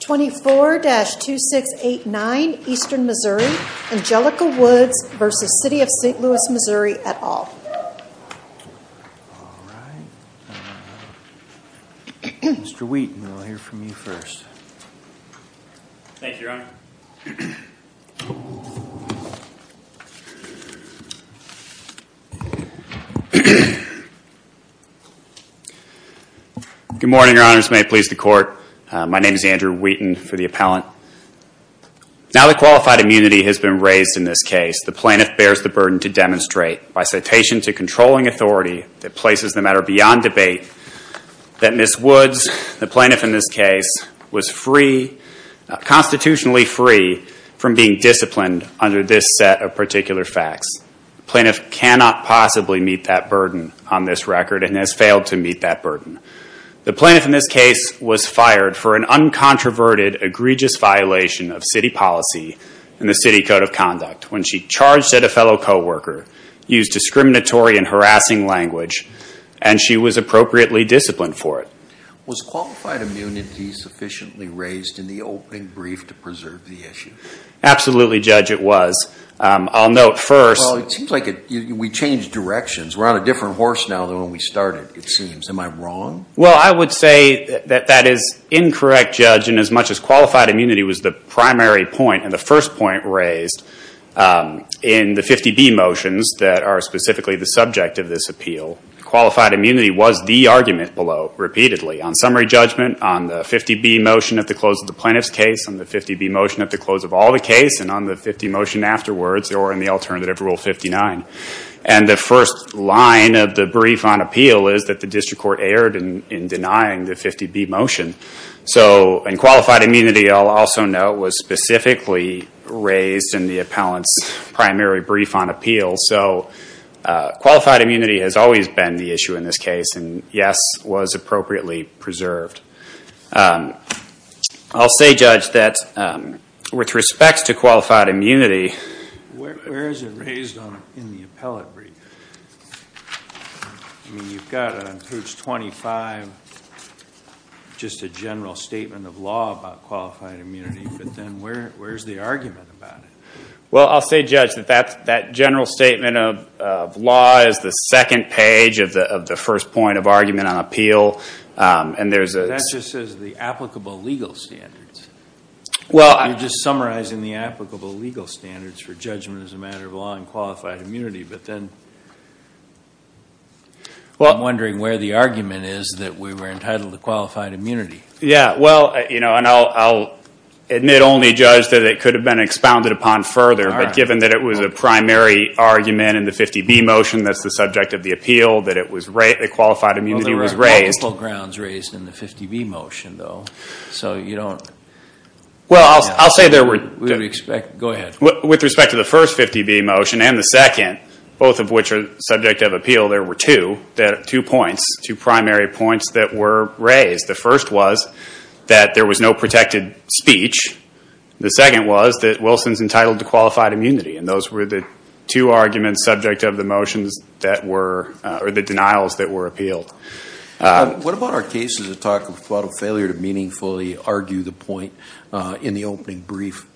24-2689 Eastern Missouri, Angelica Woods v. City of St. Louis, Missouri, et al. Mr. Wheaton, we'll hear from you first. Thank you, Your Honor. Good morning, Your Honors. May it please the Court, my name is Andrew Wheaton, for the appellant. Now that qualified immunity has been raised in this case, the plaintiff bears the burden to demonstrate, by citation to controlling authority, that places the matter beyond debate, that Ms. Woods, the plaintiff in this case, was free, constitutionally free, from being disciplined under this set of particular facts. The plaintiff cannot possibly meet that burden on this record, and has failed to meet that burden. The plaintiff in this case was fired for an uncontroverted, egregious violation of city policy and the city code of conduct, when she charged at a fellow co-worker, used discriminatory and harassing language, and she was appropriately disciplined for it. Was qualified immunity sufficiently raised in the opening brief to preserve the issue? Absolutely, Judge, it was. I'll note first... Well, it seems like we changed directions. We're on a different horse now than when we started, it seems. Am I wrong? Well, I would say that that is incorrect, Judge, and as much as qualified immunity was the primary point and the first point raised in the 50B motions that are specifically the subject of this appeal, qualified immunity was the argument below, repeatedly. On summary judgment, on the 50B motion at the close of the plaintiff's case, on the 50B motion at the close of all the case, and on the 50 motion afterwards, or in the alternative Rule 59. And the first line of the brief on appeal is that the district court erred in denying the 50B motion. And qualified immunity, I'll also note, was specifically raised in the appellant's primary brief on appeal. So qualified immunity has always been the issue in this case, and yes, was appropriately preserved. I'll say, Judge, that with respect to qualified immunity... Where is it raised in the appellate brief? I mean, you've got on page 25 just a general statement of law about qualified immunity, but then where's the argument about it? Well, I'll say, Judge, that that general statement of law is the second page of the first point of argument on appeal, and there's a... That just says the applicable legal standards. Well, I... You're just summarizing the applicable legal standards for judgment as a matter of law and qualified immunity, but then I'm wondering where the argument is that we were entitled to qualified immunity. Yeah, well, and I'll admit only, Judge, that it could have been expounded upon further, but given that it was a primary argument in the 50B motion that's the subject of the appeal, that the qualified immunity was raised... Well, there were multiple grounds raised in the 50B motion, though, so you don't... Well, I'll say there were... Go ahead. With respect to the first 50B motion and the second, both of which are subject of appeal, there were two points, two primary points that were raised. The first was that there was no protected speech. The second was that Wilson's entitled to qualified immunity, and those were the two arguments subject of the motions that were... or the denials that were appealed. What about our cases that talk about a failure to meaningfully argue the point in the opening brief?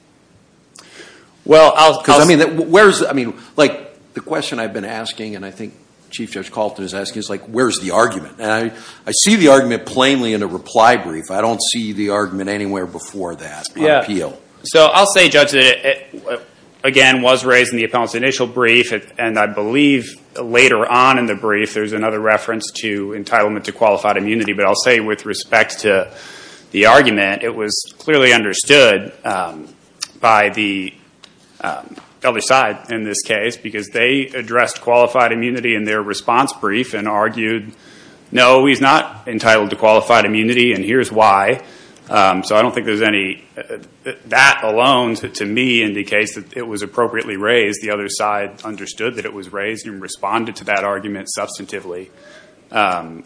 Well, I'll... Because, I mean, where's... I mean, like, the question I've been asking and I think Chief Judge Kalten is asking is, like, where's the argument? And I see the argument plainly in a reply brief. I don't see the argument anywhere before that, on appeal. Yeah, so I'll say, Judge, that it, again, was raised in the appellant's initial brief, and I believe later on in the brief there's another reference to entitlement to qualified immunity. But I'll say, with respect to the argument, it was clearly understood by the other side in this case because they addressed qualified immunity in their response brief and argued, no, he's not entitled to qualified immunity and here's why. So I don't think there's any... That alone, to me, indicates that it was appropriately raised. The other side understood that it was raised and responded to that argument substantively,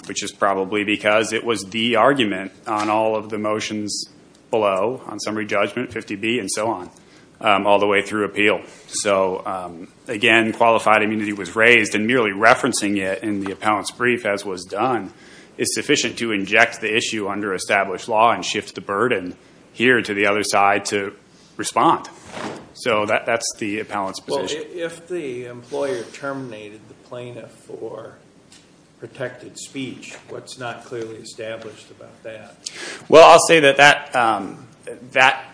which is probably because it was the argument on all of the motions below, on summary judgment, 50B, and so on, all the way through appeal. So, again, qualified immunity was raised, and merely referencing it in the appellant's brief, as was done, is sufficient to inject the issue under established law and shift the burden here to the other side to respond. So that's the appellant's position. Well, if the employer terminated the plaintiff for protected speech, what's not clearly established about that? Well, I'll say that that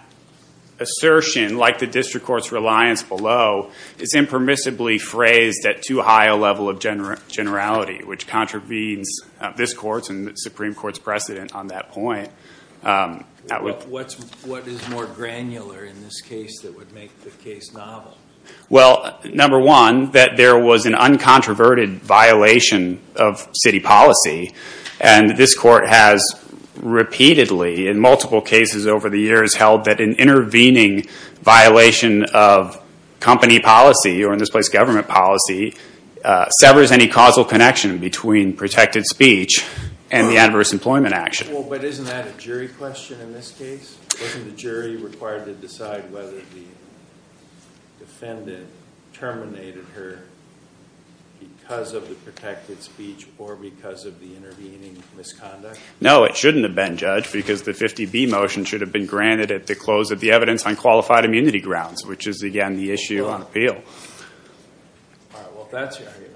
assertion, like the district court's reliance below, is impermissibly phrased at too high a level of generality, which contravenes this Court's and the Supreme Court's precedent on that point. What is more granular in this case that would make the case novel? Well, number one, that there was an uncontroverted violation of city policy, and this Court has repeatedly, in multiple cases over the years, held that an intervening violation of company policy, or in this place, government policy, severs any causal connection between protected speech and the adverse employment action. Well, but isn't that a jury question in this case? Wasn't the jury required to decide whether the defendant terminated her because of the protected speech or because of the intervening misconduct? No, it shouldn't have been, Judge, because the 50B motion should have been granted at the close of the evidence on qualified immunity grounds, which is, again, the issue on appeal. All right, well, if that's your argument,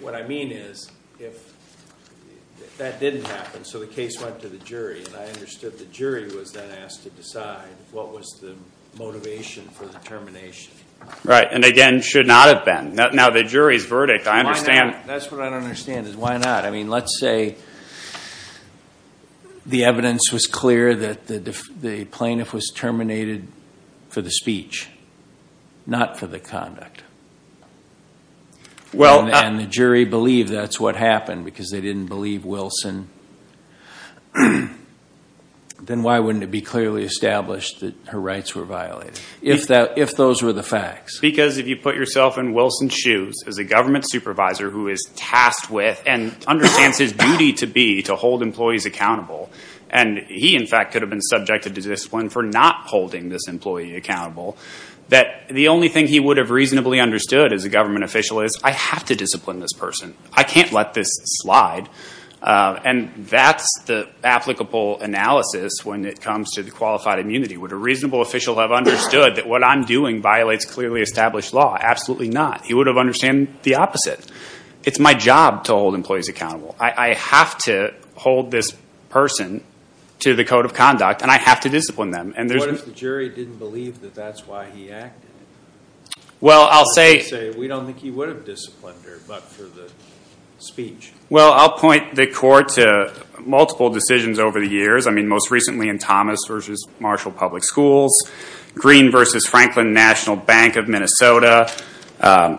what I mean is if that didn't happen, so the case went to the jury, and I understood the jury was then asked to decide what was the motivation for the termination. Right, and again, should not have been. Now, the jury's verdict, I understand. That's what I don't understand is why not? I mean, let's say the evidence was clear that the plaintiff was terminated for the speech, not for the conduct, and the jury believed that's what happened because they didn't believe Wilson, then why wouldn't it be clearly established that her rights were violated, if those were the facts? Because if you put yourself in Wilson's shoes as a government supervisor who is tasked with and understands his duty to be to hold employees accountable, and he, in fact, could have been subjected to discipline for not holding this employee accountable, that the only thing he would have reasonably understood as a government official is I have to discipline this person. I can't let this slide, and that's the applicable analysis when it comes to the qualified immunity. Would a reasonable official have understood that what I'm doing violates clearly established law? Absolutely not. He would have understood the opposite. It's my job to hold employees accountable. I have to hold this person to the code of conduct, and I have to discipline them. What if the jury didn't believe that that's why he acted? Well, I'll say we don't think he would have disciplined her but for the speech. Well, I'll point the court to multiple decisions over the years. I mean most recently in Thomas v. Marshall Public Schools, Green v. Franklin National Bank of Minnesota,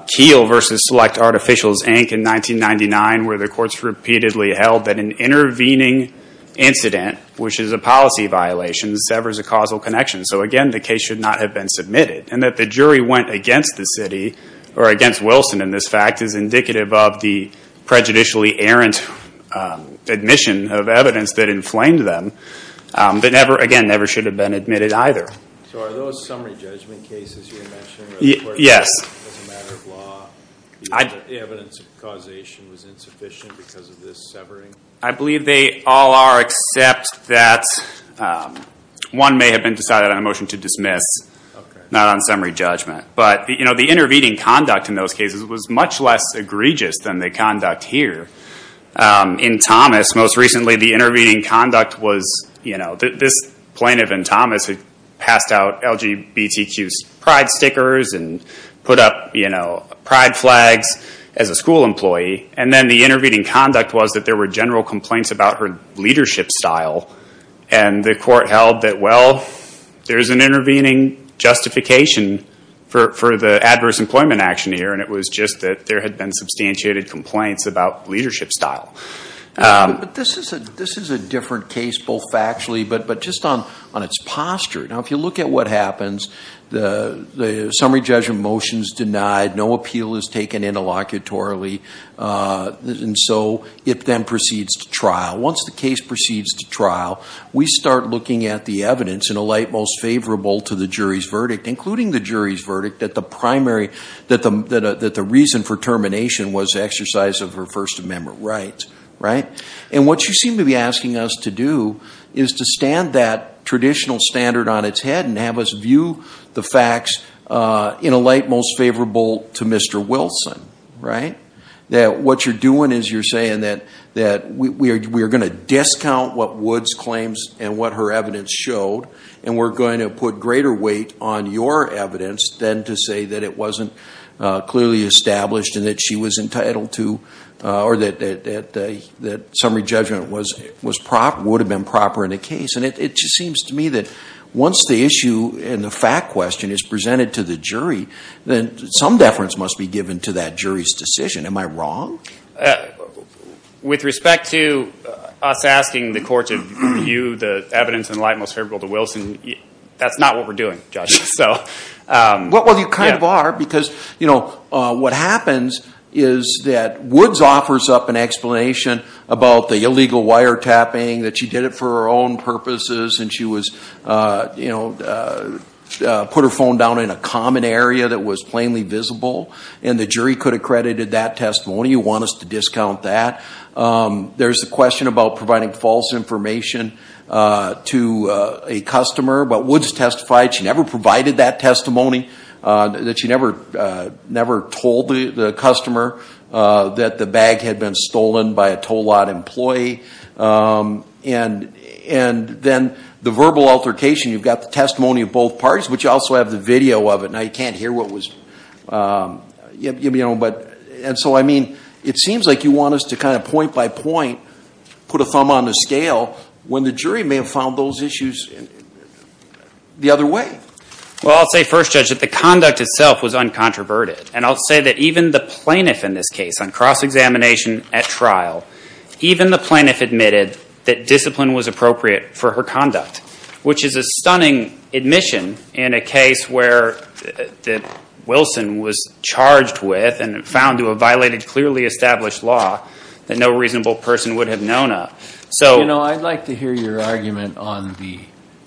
Keele v. Select Artificials, Inc. in 1999 where the courts repeatedly held that an intervening incident, which is a policy violation, severs a causal connection. So, again, the case should not have been submitted, and that the jury went against the city or against Wilson in this fact is indicative of the prejudicially errant admission of evidence that inflamed them, but never, again, never should have been admitted either. So are those summary judgment cases you mentioned? Yes. As a matter of law, the evidence of causation was insufficient because of this severing? I believe they all are except that one may have been decided on a motion to dismiss, not on summary judgment. But the intervening conduct in those cases was much less egregious than the conduct here. In Thomas, most recently, the intervening conduct was this plaintiff in Thomas had passed out LGBTQ pride stickers and put up pride flags as a school employee, and then the intervening conduct was that there were general complaints about her leadership style, and the court held that, well, there's an intervening justification for the adverse employment action here, and it was just that there had been substantiated complaints about leadership style. But this is a different case, both factually but just on its posture. Now, if you look at what happens, the summary judgment motion is denied, no appeal is taken interlocutorily, and so it then proceeds to trial. Once the case proceeds to trial, we start looking at the evidence in a light most favorable to the jury's verdict, including the jury's verdict that the reason for termination was exercise of her First Amendment rights. And what you seem to be asking us to do is to stand that traditional standard on its head and have us view the facts in a light most favorable to Mr. Wilson. What you're doing is you're saying that we are going to discount what Woods claims and what her evidence showed, and we're going to put greater weight on your evidence than to say that it wasn't clearly established and that she was entitled to or that summary judgment would have been proper in the case. And it just seems to me that once the issue and the fact question is presented to the jury, then some deference must be given to that jury's decision. Am I wrong? With respect to us asking the court to view the evidence in a light most favorable to Wilson, that's not what we're doing, Judge. Well, you kind of are, because what happens is that Woods offers up an explanation about the illegal wiretapping, that she did it for her own purposes and she put her phone down in a common area that was plainly visible, and the jury could have credited that testimony. You want us to discount that. There's a question about providing false information to a customer, but Woods testified she never provided that testimony, that she never told the customer that the bag had been stolen by a tow lot employee. And then the verbal altercation, you've got the testimony of both parties, but you also have the video of it. Now, you can't hear what was, you know, but, and so, I mean, it seems like you want us to kind of point by point put a thumb on the scale when the jury may have found those issues the other way. Well, I'll say first, Judge, that the conduct itself was uncontroverted, and I'll say that even the plaintiff in this case on cross-examination at trial, even the plaintiff admitted that discipline was appropriate for her conduct, which is a stunning admission in a case where Wilson was charged with and found to have violated clearly established law that no reasonable person would have known of. You know, I'd like to hear your argument on the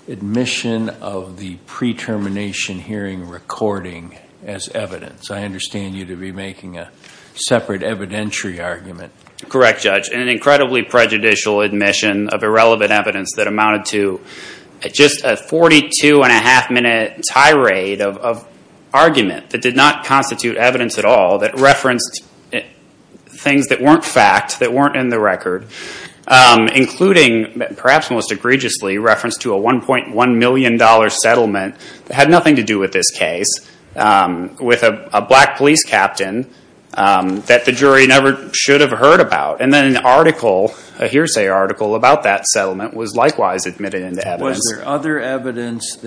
admission of the pre-termination hearing recording as evidence. I understand you to be making a separate evidentiary argument. Correct, Judge. An incredibly prejudicial admission of irrelevant evidence that amounted to just a 42-and-a-half-minute tirade of argument that did not constitute evidence at all, that referenced things that weren't fact, that weren't in the record, including perhaps most egregiously reference to a $1.1 million settlement that had nothing to do with this case, with a black police captain that the jury never should have heard about. And then an article, a hearsay article, about that settlement was likewise admitted into evidence. Was there other evidence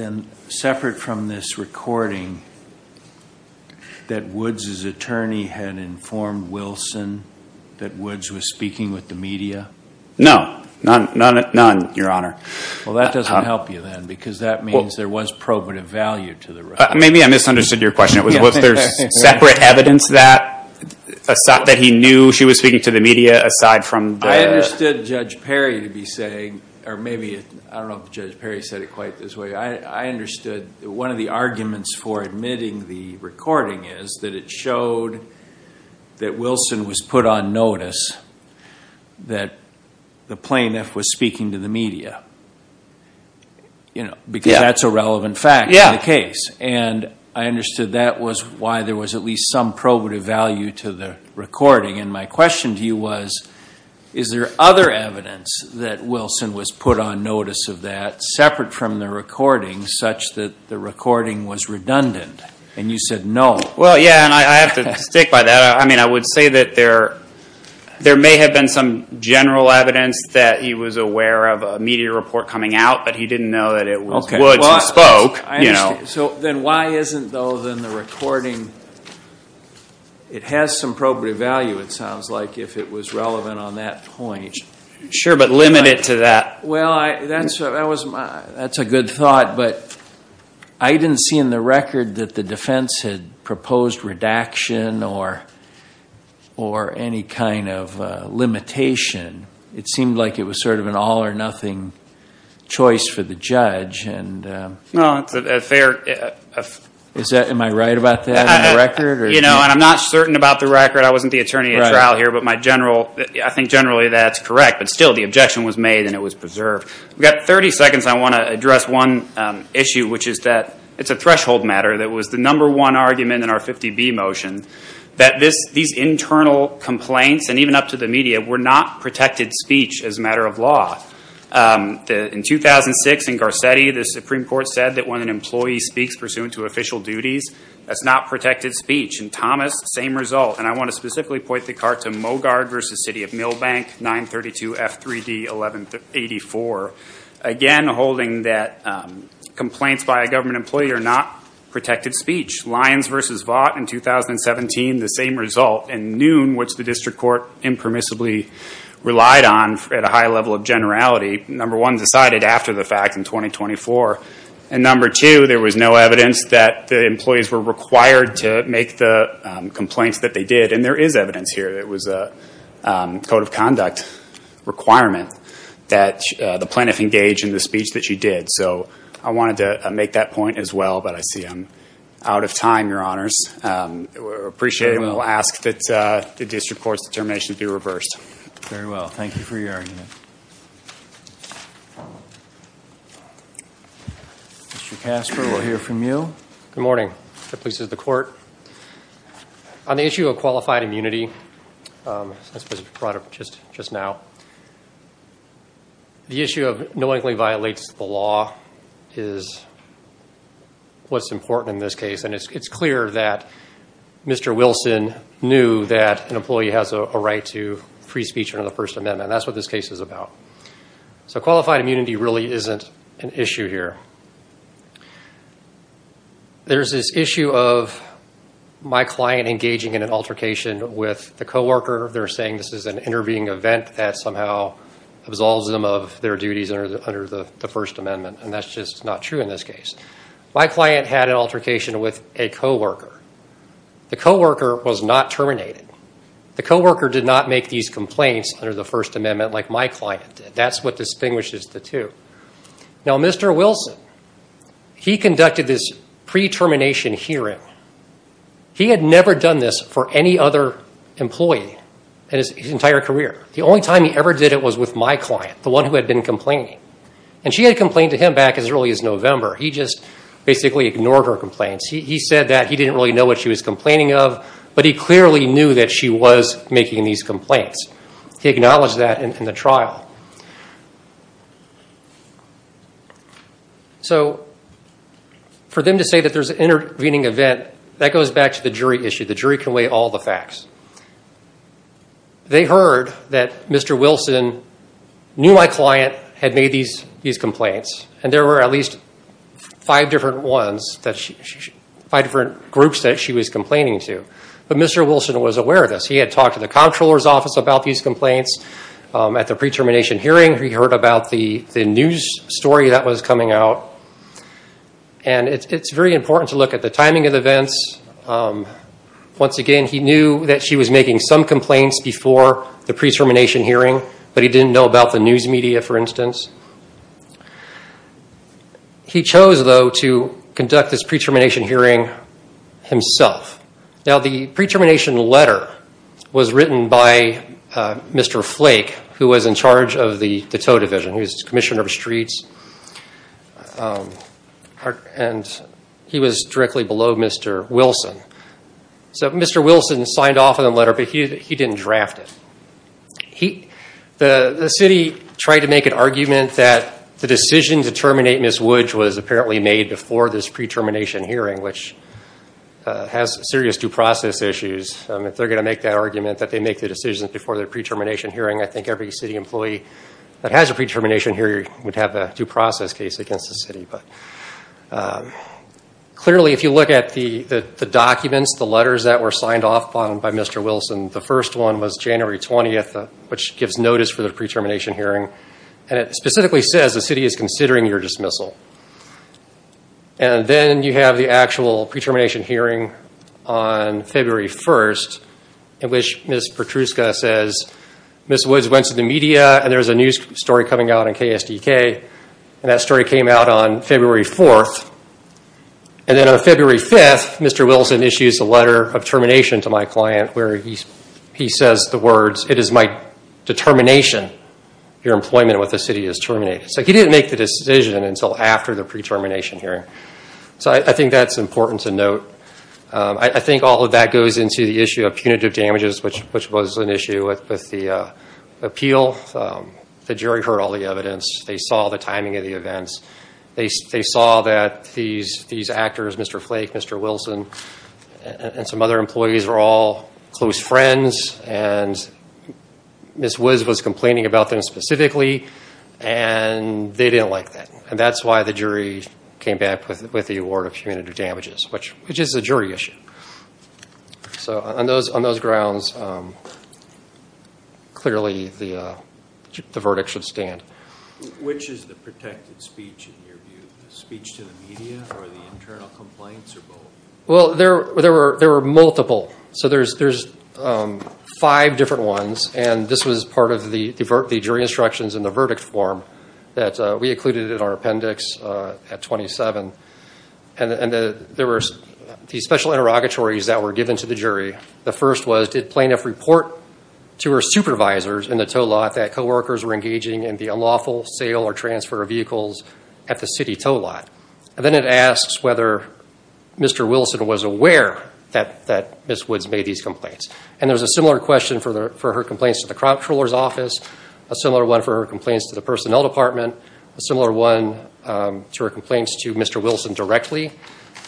separate from this recording that Woods' attorney had informed Wilson that Woods was speaking with the media? No, none, Your Honor. Well, that doesn't help you then, because that means there was probative value to the record. Maybe I misunderstood your question. Was there separate evidence that he knew she was speaking to the media aside from the… I understood Judge Perry to be saying, or maybe, I don't know if Judge Perry said it quite this way, I understood one of the arguments for admitting the recording is that it showed that Wilson was put on notice that the plaintiff was speaking to the media, because that's a relevant fact in the case. And I understood that was why there was at least some probative value to the recording. And my question to you was, is there other evidence that Wilson was put on notice of that, separate from the recording, such that the recording was redundant? And you said no. Well, yeah, and I have to stick by that. I mean, I would say that there may have been some general evidence that he was aware of a media report coming out, but he didn't know that it was Woods who spoke. So then why isn't, though, then the recording, it has some probative value, it sounds like, if it was relevant on that point. Sure, but limit it to that. Well, that's a good thought, but I didn't see in the record that the defense had proposed redaction or any kind of limitation. It seemed like it was sort of an all or nothing choice for the judge. No, it's a fair. Am I right about that in the record? You know, and I'm not certain about the record. I wasn't the attorney at trial here, but I think generally that's correct. But still, the objection was made and it was preserved. We've got 30 seconds. I want to address one issue, which is that it's a threshold matter that was the number one argument in our 50B motion, that these internal complaints, and even up to the media, were not protected speech as a matter of law. In 2006 in Garcetti, the Supreme Court said that when an employee speaks pursuant to official duties, that's not protected speech. In Thomas, same result. And I want to specifically point the cart to Mogard v. City of Milbank, 932 F3D 1184. Again, holding that complaints by a government employee are not protected speech. Lyons v. Vaught in 2017, the same result. And Noon, which the district court impermissibly relied on at a high level of generality, number one, decided after the fact in 2024. And number two, there was no evidence that the employees were required to make the complaints that they did. And there is evidence here. It was a code of conduct requirement that the plaintiff engage in the speech that she did. So I wanted to make that point as well, but I see I'm out of time, Your Honors. We appreciate it. And we'll ask that the district court's determination be reversed. Very well. Thank you for your argument. Mr. Casper, we'll hear from you. Good morning. The police and the court. On the issue of qualified immunity, as was brought up just now, the issue of knowingly violates the law is what's important in this case. And it's clear that Mr. Wilson knew that an employee has a right to free speech under the First Amendment. That's what this case is about. So qualified immunity really isn't an issue here. There's this issue of my client engaging in an altercation with the coworker. They're saying this is an intervening event that somehow absolves them of their duties under the First Amendment. And that's just not true in this case. My client had an altercation with a coworker. The coworker was not terminated. The coworker did not make these complaints under the First Amendment like my client did. That's what distinguishes the two. Now, Mr. Wilson, he conducted this pre-termination hearing. He had never done this for any other employee in his entire career. The only time he ever did it was with my client, the one who had been complaining. And she had complained to him back as early as November. He just basically ignored her complaints. He said that he didn't really know what she was complaining of, but he clearly knew that she was making these complaints. He acknowledged that in the trial. So for them to say that there's an intervening event, that goes back to the jury issue. The jury can weigh all the facts. They heard that Mr. Wilson knew my client had made these complaints. And there were at least five different groups that she was complaining to. But Mr. Wilson was aware of this. He had talked to the comptroller's office about these complaints at the pre-termination hearing. He heard about the news story that was coming out. And it's very important to look at the timing of events. Once again, he knew that she was making some complaints before the pre-termination hearing, but he didn't know about the news media, for instance. He chose, though, to conduct this pre-termination hearing himself. Now, the pre-termination letter was written by Mr. Flake, who was in charge of the tow division. He was commissioner of streets. And he was directly below Mr. Wilson. So Mr. Wilson signed off on the letter, but he didn't draft it. The city tried to make an argument that the decision to terminate Ms. Woods was apparently made before this pre-termination hearing, which has serious due process issues. If they're going to make that argument, that they make the decision before the pre-termination hearing, I think every city employee that has a pre-termination hearing would have a due process case against the city. Clearly, if you look at the documents, the letters that were signed off on by Mr. Wilson, the first one was January 20th, which gives notice for the pre-termination hearing. And it specifically says the city is considering your dismissal. And then you have the actual pre-termination hearing on February 1st, in which Ms. Petruska says, Ms. Woods went to the media, and there's a news story coming out on KSDK. And that story came out on February 4th. And then on February 5th, Mr. Wilson issues a letter of termination to my client, where he says the words, it is my determination your employment with the city is terminated. So he didn't make the decision until after the pre-termination hearing. So I think that's important to note. I think all of that goes into the issue of punitive damages, which was an issue with the appeal. The jury heard all the evidence. They saw the timing of the events. They saw that these actors, Mr. Flake, Mr. Wilson, and some other employees were all close friends, and Ms. Woods was complaining about them specifically, and they didn't like that. And that's why the jury came back with the award of punitive damages, which is a jury issue. So on those grounds, clearly the verdict should stand. Which is the protected speech in your view, the speech to the media or the internal complaints or both? Well, there were multiple. So there's five different ones, and this was part of the jury instructions in the verdict form that we included in our appendix at 27. And there were these special interrogatories that were given to the jury. The first was, did plaintiff report to her supervisors in the tow lot that coworkers were engaging in the unlawful sale or transfer of vehicles at the city tow lot? And then it asks whether Mr. Wilson was aware that Ms. Woods made these complaints. And there was a similar question for her complaints to the comptroller's office, a similar one for her complaints to the personnel department, a similar one to her complaints to Mr. Wilson directly,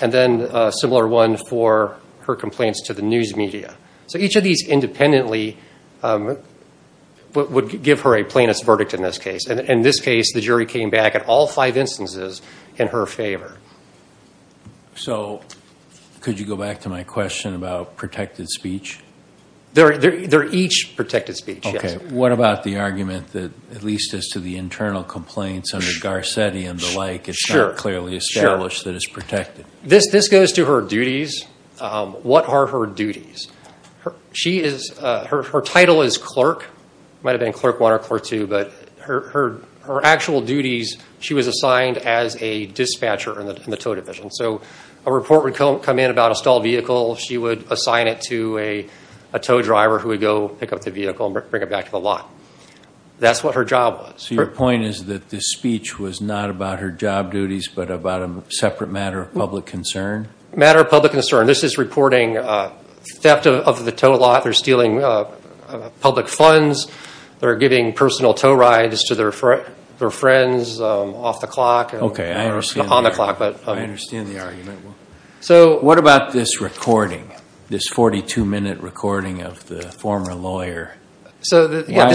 and then a similar one for her complaints to the news media. So each of these independently would give her a plaintiff's verdict in this case. In this case, the jury came back in all five instances in her favor. So could you go back to my question about protected speech? They're each protected speech, yes. Okay. What about the argument that at least as to the internal complaints under Garcetti and the like, it's not clearly established that it's protected? This goes to her duties. What are her duties? Her title is clerk. Might have been clerk one or clerk two, but her actual duties, she was assigned as a dispatcher in the tow division. So a report would come in about a stalled vehicle. She would assign it to a tow driver who would go pick up the vehicle and bring it back to the lot. That's what her job was. So your point is that the speech was not about her job duties but about a separate matter of public concern? Matter of public concern. This is reporting theft of the tow lot. They're stealing public funds. They're giving personal tow rides to their friends off the clock or on the clock. I understand the argument. What about this recording, this 42-minute recording of the former lawyer? Why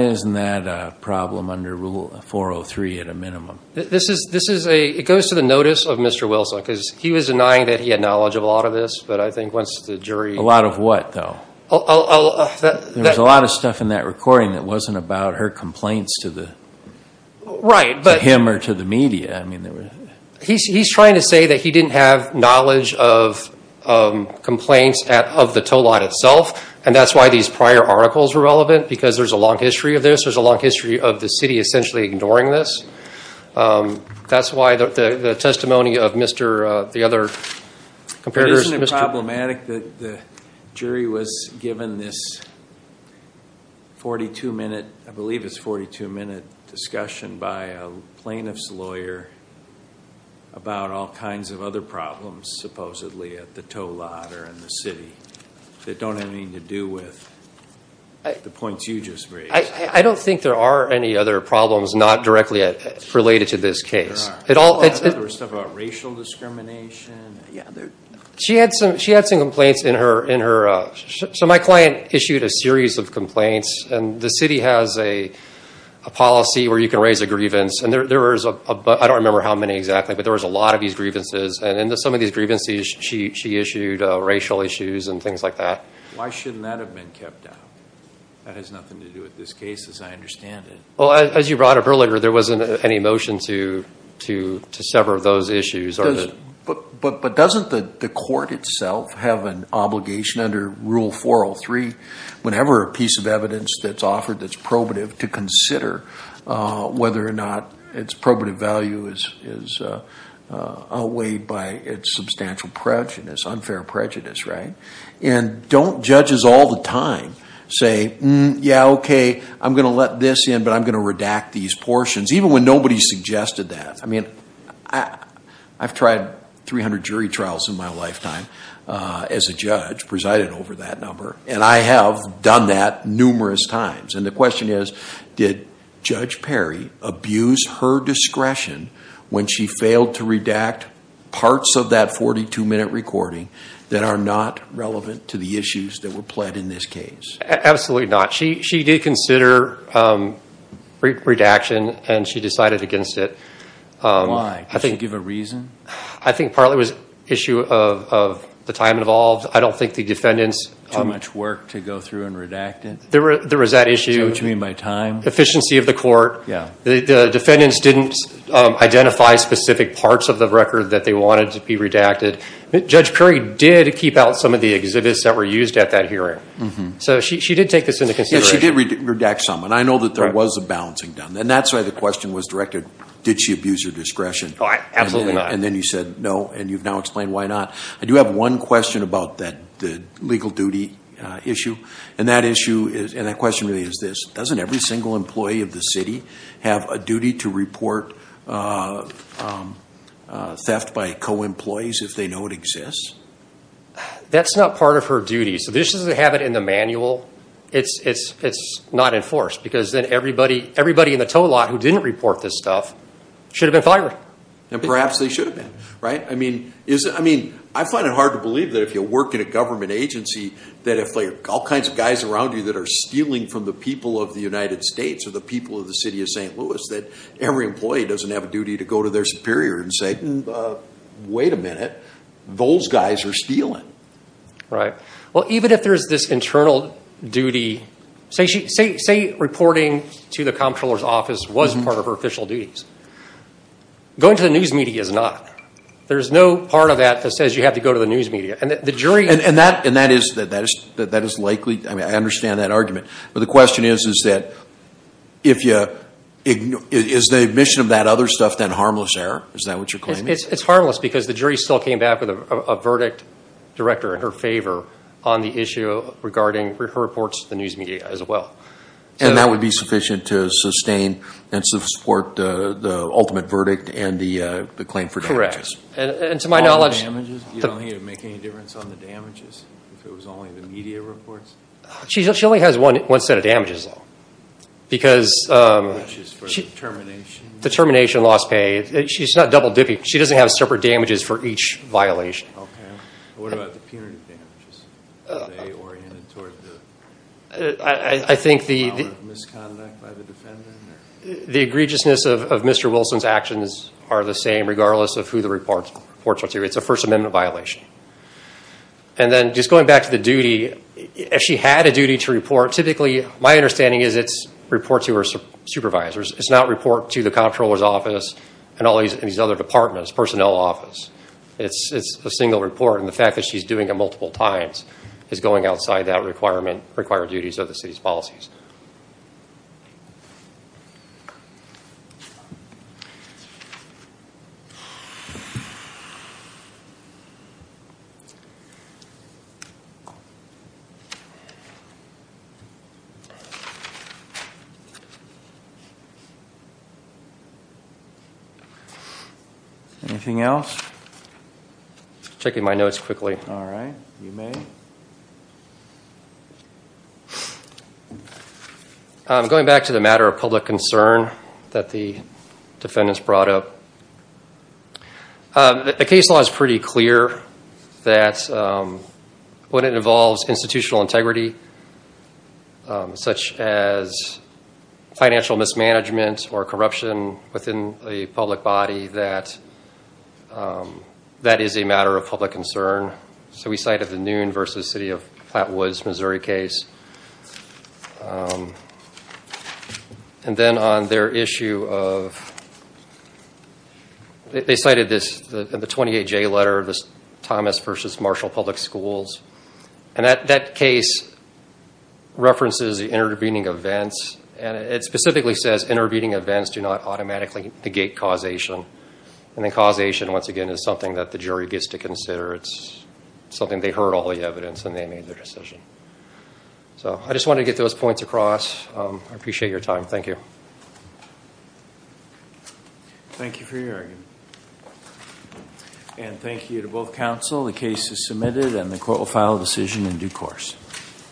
isn't that a problem under Rule 403 at a minimum? It goes to the notice of Mr. Wilson because he was denying that he had knowledge of a lot of this. A lot of what, though? There was a lot of stuff in that recording that wasn't about her complaints to him or to the media. He's trying to say that he didn't have knowledge of complaints of the tow lot itself, and that's why these prior articles were relevant because there's a long history of this. There's a long history of the city essentially ignoring this. That's why the testimony of the other comparators. Isn't it problematic that the jury was given this 42-minute discussion by a plaintiff's lawyer about all kinds of other problems supposedly at the tow lot or in the city that don't have anything to do with the points you just raised? I don't think there are any other problems not directly related to this case. There was stuff about racial discrimination. She had some complaints. My client issued a series of complaints. The city has a policy where you can raise a grievance. I don't remember how many exactly, but there was a lot of these grievances. In some of these grievances, she issued racial issues and things like that. Why shouldn't that have been kept out? That has nothing to do with this case as I understand it. As you brought up earlier, there wasn't any motion to sever those issues. But doesn't the court itself have an obligation under Rule 403, whenever a piece of evidence that's offered that's probative, to consider whether or not its probative value is outweighed by its substantial prejudice, unfair prejudice, right? Don't judges all the time say, yeah, okay, I'm going to let this in, but I'm going to redact these portions, even when nobody suggested that. I've tried 300 jury trials in my lifetime as a judge presiding over that number. I have done that numerous times. The question is, did Judge Perry abuse her discretion when she failed to redact parts of that 42-minute recording that are not relevant to the issues that were pled in this case? Absolutely not. She did consider redaction, and she decided against it. Why? Did she give a reason? I think partly it was an issue of the time involved. I don't think the defendants— Too much work to go through and redact it? There was that issue. Do you know what you mean by time? Efficiency of the court. The defendants didn't identify specific parts of the record that they wanted to be redacted. Judge Perry did keep out some of the exhibits that were used at that hearing. She did take this into consideration. She did redact some, and I know that there was a balancing done. That's why the question was directed, did she abuse her discretion? Absolutely not. Then you said no, and you've now explained why not. I do have one question about the legal duty issue. That question really is this. Doesn't every single employee of the city have a duty to report theft by co-employees if they know it exists? That's not part of her duty. This doesn't have it in the manual. It's not enforced because then everybody in the tow lot who didn't report this stuff should have been fired. Perhaps they should have been. I find it hard to believe that if you work in a government agency, that if all kinds of guys around you that are stealing from the people of the United States or the people of the city of St. Louis, that every employee doesn't have a duty to go to their superior and say, wait a minute, those guys are stealing. Right. Well, even if there's this internal duty, say reporting to the comptroller's office was part of her official duties. Going to the news media is not. There's no part of that that says you have to go to the news media. And that is likely. I understand that argument. But the question is that is the admission of that other stuff then harmless error? Is that what you're claiming? It's harmless because the jury still came back with a verdict, director, in her favor on the issue regarding her reports to the news media as well. And that would be sufficient to sustain and support the ultimate verdict and the claim for damages? And to my knowledge. All the damages? You don't think it would make any difference on the damages if it was only the media reports? She only has one set of damages though. Which is for the termination? The termination, lost pay. She's not double dipping. She doesn't have separate damages for each violation. Okay. What about the punitive damages? Are they oriented toward the power of misconduct by the defendant? The egregiousness of Mr. Wilson's actions are the same regardless of who the reports are to. It's a First Amendment violation. And then just going back to the duty. If she had a duty to report, typically my understanding is it's report to her supervisors. It's not report to the comptroller's office and all these other departments, personnel office. It's a single report and the fact that she's doing it multiple times is going outside that requirement, required duties of the city's policies. Anything else? Checking my notes quickly. All right. You may. Going back to the matter of public concern that the defendants brought up. The case law is pretty clear. That when it involves institutional integrity, such as financial mismanagement or corruption within a public body, that that is a matter of public concern. So we cited the Noon v. City of Platte Woods, Missouri case. And then on their issue of, they cited this in the 28-J letter, Thomas v. Marshall Public Schools. And that case references the intervening events. And it specifically says intervening events do not automatically negate causation. And then causation, once again, is something that the jury gets to consider. It's something they heard all the evidence and they made their decision. So I just wanted to get those points across. I appreciate your time. Thank you. Thank you for your argument. And thank you to both counsel. The case is submitted and the court will file a decision in due course.